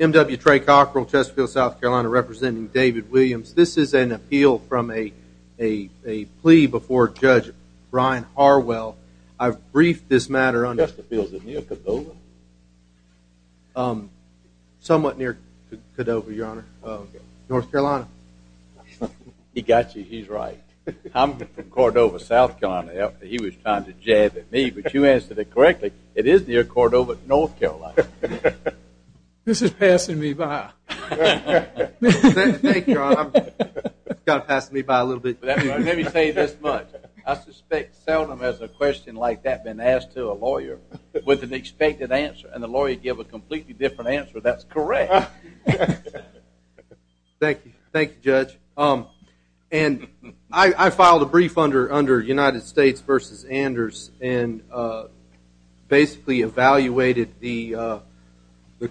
M. W. Trey Cockrell, Chesterfield, South Carolina, representing David Williams. This is an appeal from a plea before Judge Brian Harwell. I've briefed this matter on- Chesterfield is near Cordova? Somewhat near Cordova, Your Honor. North Carolina. He got you. He's right. I'm from Cordova, South Carolina. He was trying to jab at me, but you answered it correctly. It is near Cordova, North Carolina. This is passing me by. Thank you, Your Honor. It's kind of passing me by a little bit, but anyway, let me say this much. I suspect seldom has a question like that been asked to a lawyer with an expected answer, and the lawyer give a completely different answer that's correct. Thank you, Judge. I filed a brief under United States v. Anders and basically evaluated the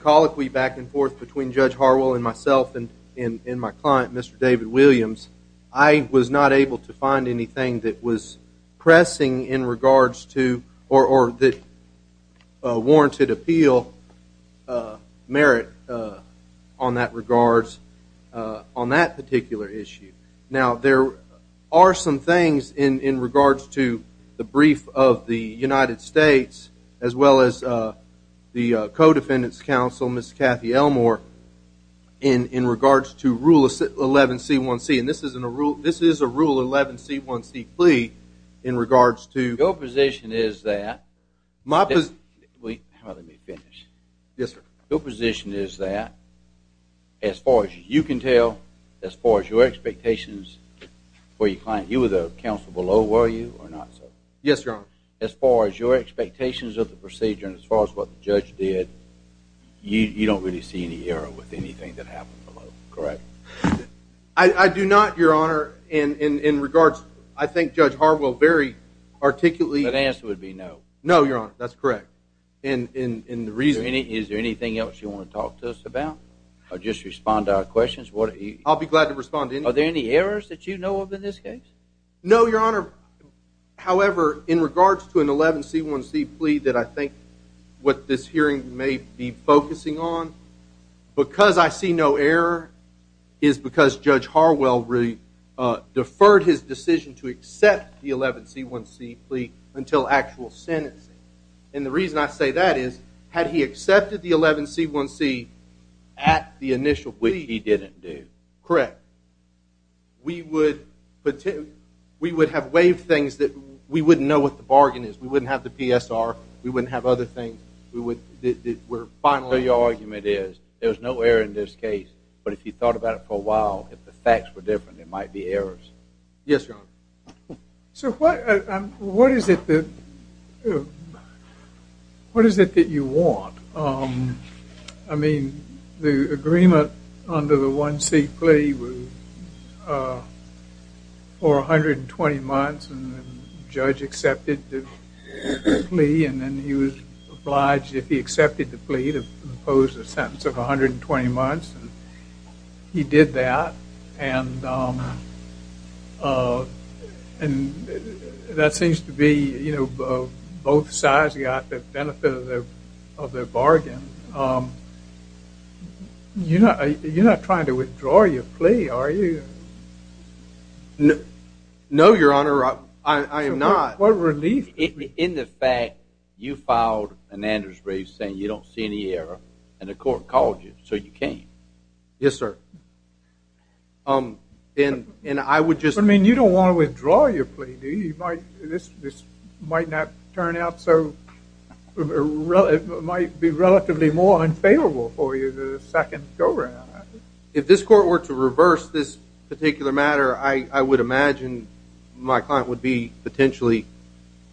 colloquy back and forth between Judge Harwell and myself and my client, Mr. David Williams. I was not able to find anything that was pressing in regards to or that warranted appeal merit on that particular issue. Now, there are some things in regards to the brief of the United States as well as the co-defendant's counsel, Ms. Kathy Elmore, in regards to Rule 11C1C, and this is a Rule 11C1C plea in regards to- Your position is that- My position- Wait. Let me finish. Yes, sir. Your position is that as far as you can tell, as far as your expectations for your client, you were the counsel below, were you, or not so? Yes, Your Honor. As far as your expectations of the procedure and as far as what the judge did, you don't really see any error with anything that happened below, correct? I do not, Your Honor, in regards- I think Judge Harwell very articulately- The answer would be no. No, Your Honor. That's correct. And the reason- Is there anything else you want to talk to us about or just respond to our questions? I'll be glad to respond to any- Are there any errors that you know of in this case? No, Your Honor. However, in regards to an 11C1C plea that I think what this hearing may be focusing on, because I see no error is because Judge Harwell deferred his decision to accept the 11C1C plea until actual sentencing. And the reason I say that is, had he accepted the 11C1C at the initial plea- Which he didn't do. Correct. We would have waived things that we wouldn't know what the bargain is. We wouldn't have the PSR. We wouldn't have other things. We would- The final argument is, there's no error in this case. But if you thought about it for a while, if the facts were different, there might be errors. Yes, Your Honor. So, what is it that you want? I mean, the agreement under the 1C plea was for 120 months, and the judge accepted the plea, and then he was obliged, if he accepted the plea, to impose a sentence of 120 months, and he did that. And that seems to be, you know, both sides got the benefit of their bargain. You're not trying to withdraw your plea, are you? No, Your Honor. I am not. What relief. In the fact, you filed an Anders brief saying you don't see any error, and the court called you, so you came. Yes, sir. And I would just- I mean, you don't want to withdraw your plea, do you? This might not turn out so- it might be relatively more unfavorable for you than the second go-round. If this court were to reverse this particular matter, I would imagine my client would be potentially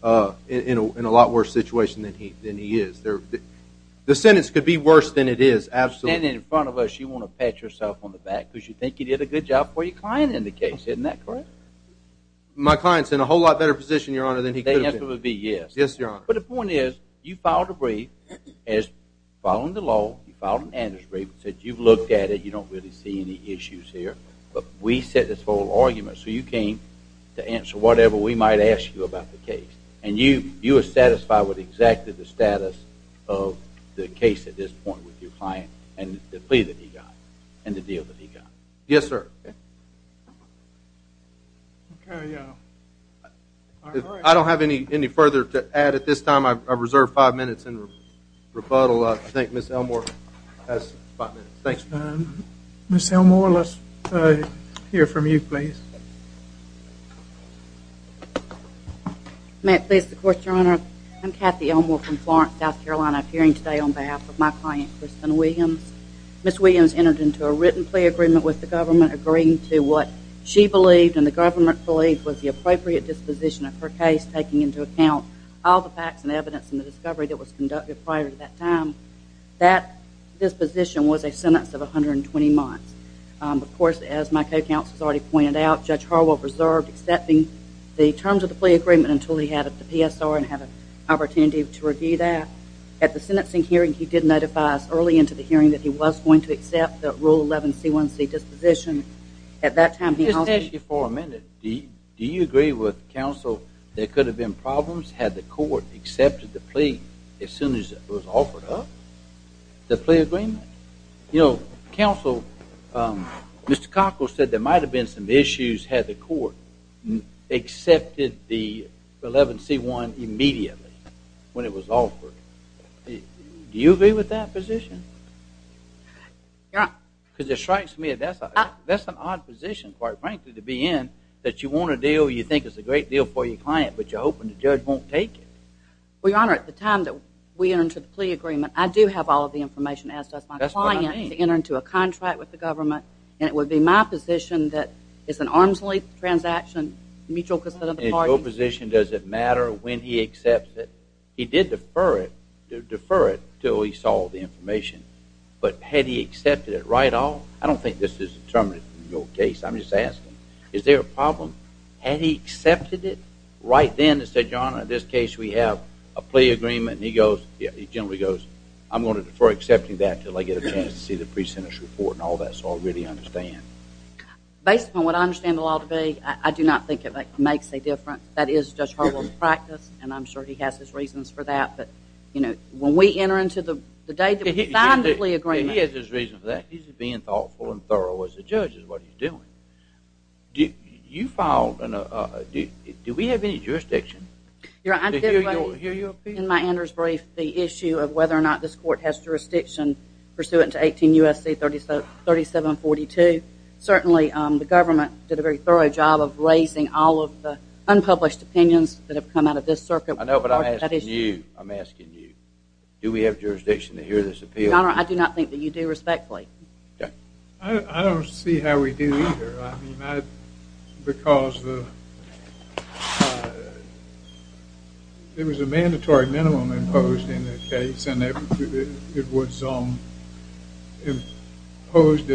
in a lot worse situation than he is. The sentence could be worse than it is, absolutely. And in front of us, you want to pat yourself on the back because you think you did a good job for your client in the case, isn't that correct? My client's in a whole lot better position, Your Honor, than he could have been. The answer would be yes. Yes, Your Honor. But the point is, you filed a brief following the law, you filed an Anders brief, said you've looked at it, you don't really see any issues here, but we set this whole argument, so you came to answer whatever we might ask you about the case. And you are satisfied with exactly the status of the case at this point with your client and the plea that he got and the deal that he got. Yes, sir. I don't have any further to add at this time. I reserve five minutes in rebuttal. I think Ms. Elmore has five minutes. Ms. Elmore, let's hear from you, please. May I please, of course, Your Honor? I'm Kathy Elmore from Florence, South Carolina, appearing today on behalf of my client, Kristen Williams. Ms. Williams entered into a written plea agreement with the government agreeing to what she believed and the government believed was the appropriate disposition of her case, taking into account all the facts and evidence and the discovery that was conducted prior to that time. That disposition was a sentence of 120 months. Of course, as my co-counsel has already pointed out, Judge Harwell reserved accepting the terms of the plea agreement until he had the PSR and had an opportunity to review that. At the sentencing hearing, he did notify us early into the hearing that he was going to accept the Rule 11C1C disposition. At that time, he also – Just ask you for a minute, do you agree with counsel there could have been problems had the court accepted the plea as soon as it was offered up, the plea agreement? You know, counsel, Mr. Cockrell said there might have been some issues had the court accepted the 11C1 immediately when it was offered. Do you agree with that position? Your Honor – Because it strikes me that that's an odd position, quite frankly, to be in, that you want a deal, you think it's a great deal for your client, but you're hoping the judge won't take it. Well, Your Honor, at the time that we entered into the plea agreement, I do have all of the information as does my client to enter into a contract with the government, and it would be my position that it's an arm's length transaction, mutual consent of the parties. In your position, does it matter when he accepts it? He did defer it until he saw the information. But had he accepted it right off? I don't think this is determinative in your case. I'm just asking, is there a problem? Had he accepted it right then and said, Your Honor, in this case we have a plea agreement, and he generally goes, I'm going to defer accepting that until I get a chance to see the pre-sentence report and all that, so I really understand. Based on what I understand the law to be, I do not think it makes a difference. That is Judge Harwell's practice, and I'm sure he has his reasons for that. But when we enter into the day that we sign the plea agreement – He has his reasons for that. He's being thoughtful and thorough as a judge is what he's doing. You filed – do we have any jurisdiction to hear your appeal? Your Honor, I did write in my Anders brief the issue of whether or not this court has jurisdiction pursuant to 18 U.S.C. 3742. Certainly the government did a very thorough job of raising all of the unpublished opinions that have come out of this circuit. I know, but I'm asking you. I'm asking you. Do we have jurisdiction to hear this appeal? Your Honor, I do not think that you do, respectfully. I don't see how we do either. I mean, because there was a mandatory minimum imposed in the case, and it was imposed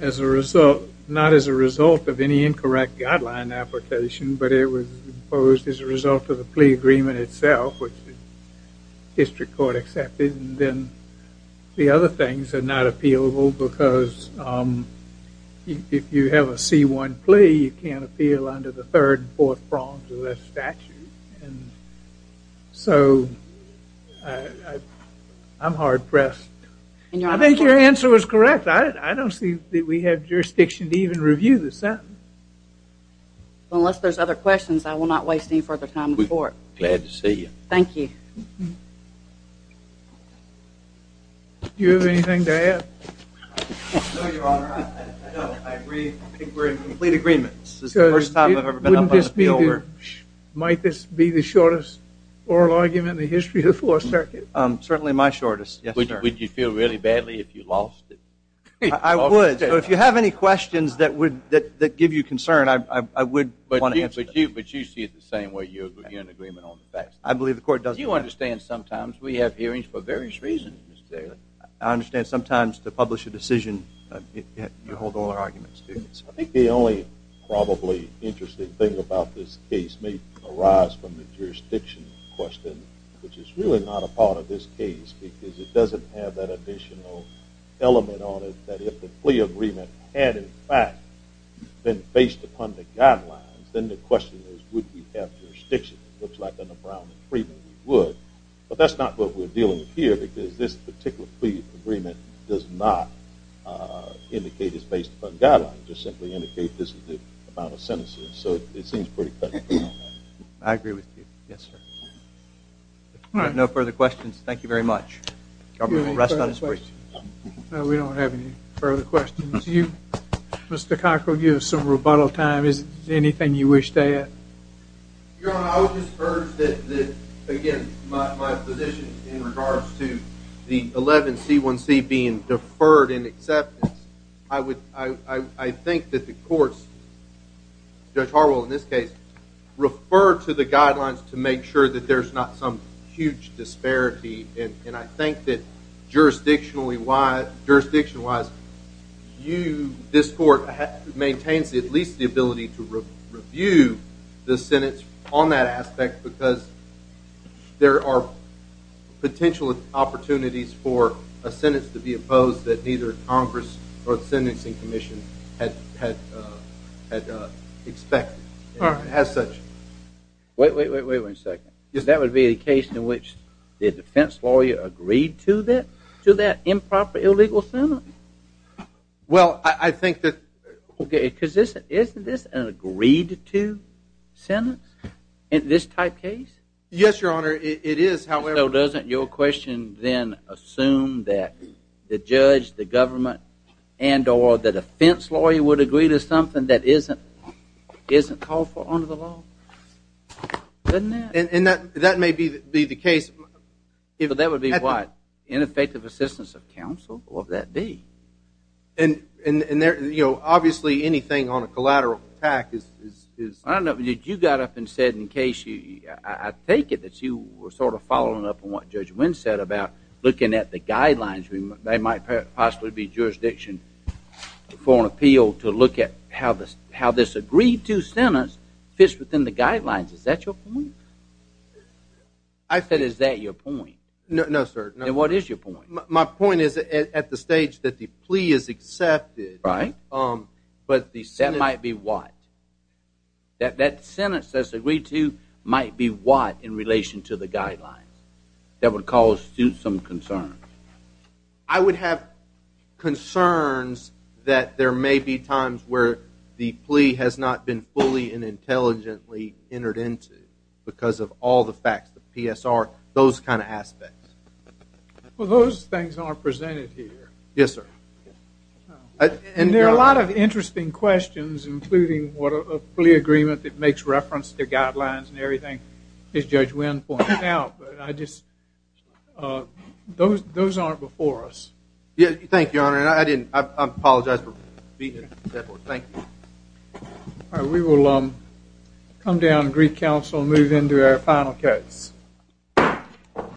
as a result – not as a result of any incorrect guideline application, but it was imposed as a result of the plea agreement itself, which the district court accepted. And then the other things are not appealable because if you have a C-1 plea, you can't appeal under the third and fourth prongs of that statute. And so I'm hard-pressed. I think your answer was correct. I don't see that we have jurisdiction to even review the sentence. Unless there's other questions, I will not waste any further time in court. Glad to see you. Thank you. Do you have anything to add? No, Your Honor. I agree. I think we're in complete agreement. This is the first time I've ever been up on an appeal. Might this be the shortest oral argument in the history of the Fourth Circuit? Certainly my shortest, yes, sir. Would you feel really badly if you lost it? I would. So if you have any questions that give you concern, I would want to answer them. But you see it the same way? You're in agreement on the facts? I believe the court does. You understand sometimes we have hearings for various reasons, Mr. Taylor. I understand sometimes to publish a decision, you hold oral arguments, too. I think the only probably interesting thing about this case may arise from the jurisdiction question, which is really not a part of this case because it doesn't have that additional element on it that if the plea agreement had, in fact, been based upon the guidelines, then the question is would we have jurisdiction. It looks like under Brown and Freeman we would. But that's not what we're dealing with here because this particular plea agreement does not indicate it's based upon guidelines. It just simply indicates this is the amount of sentences. So it seems pretty clear. I agree with you. Yes, sir. All right. No further questions. Thank you very much. Governor, rest on his brief. No, we don't have any further questions. Mr. Cockrell, you have some rebuttal time. Is there anything you wish to add? Your Honor, I would just urge that, again, my position in regards to the 11C1C being deferred in acceptance, I think that the courts, Judge Harwell in this case, refer to the guidelines to make sure that there's not some huge disparity. And I think that jurisdiction-wise this court maintains at least the ability to review the sentence on that aspect because there are potential opportunities for a sentence to be opposed that neither Congress or the Sentencing Commission had expected as such. Wait a second. Yes, sir. Isn't that supposed to be a case in which the defense lawyer agreed to that improper illegal sentence? Well, I think that... Okay, because isn't this an agreed-to sentence in this type case? Yes, Your Honor, it is. So doesn't your question then assume that the judge, the government, and or the defense lawyer would agree to something that isn't called for under the law? Doesn't that? And that may be the case. That would be what? Ineffective assistance of counsel? What would that be? And, you know, obviously anything on a collateral attack is... I don't know. You got up and said in case you... I take it that you were sort of following up on what Judge Wynn said about looking at the guidelines. They might possibly be jurisdiction for an appeal to look at how this agreed-to sentence fits within the guidelines. Is that your point? I said is that your point? No, sir. Then what is your point? My point is at the stage that the plea is accepted... Right. That might be what? That sentence that's agreed to might be what in relation to the guidelines that would cause some concern? I would have concerns that there may be times where the plea has not been fully and intelligently entered into because of all the facts, the PSR, those kind of aspects. Well, those things aren't presented here. Yes, sir. And there are a lot of interesting questions, including what a plea agreement that makes reference to guidelines and everything as Judge Wynn pointed out. Those aren't before us. Thank you, Your Honor. I apologize for beating you. Thank you. We will come down to Greek Council and move into our final case.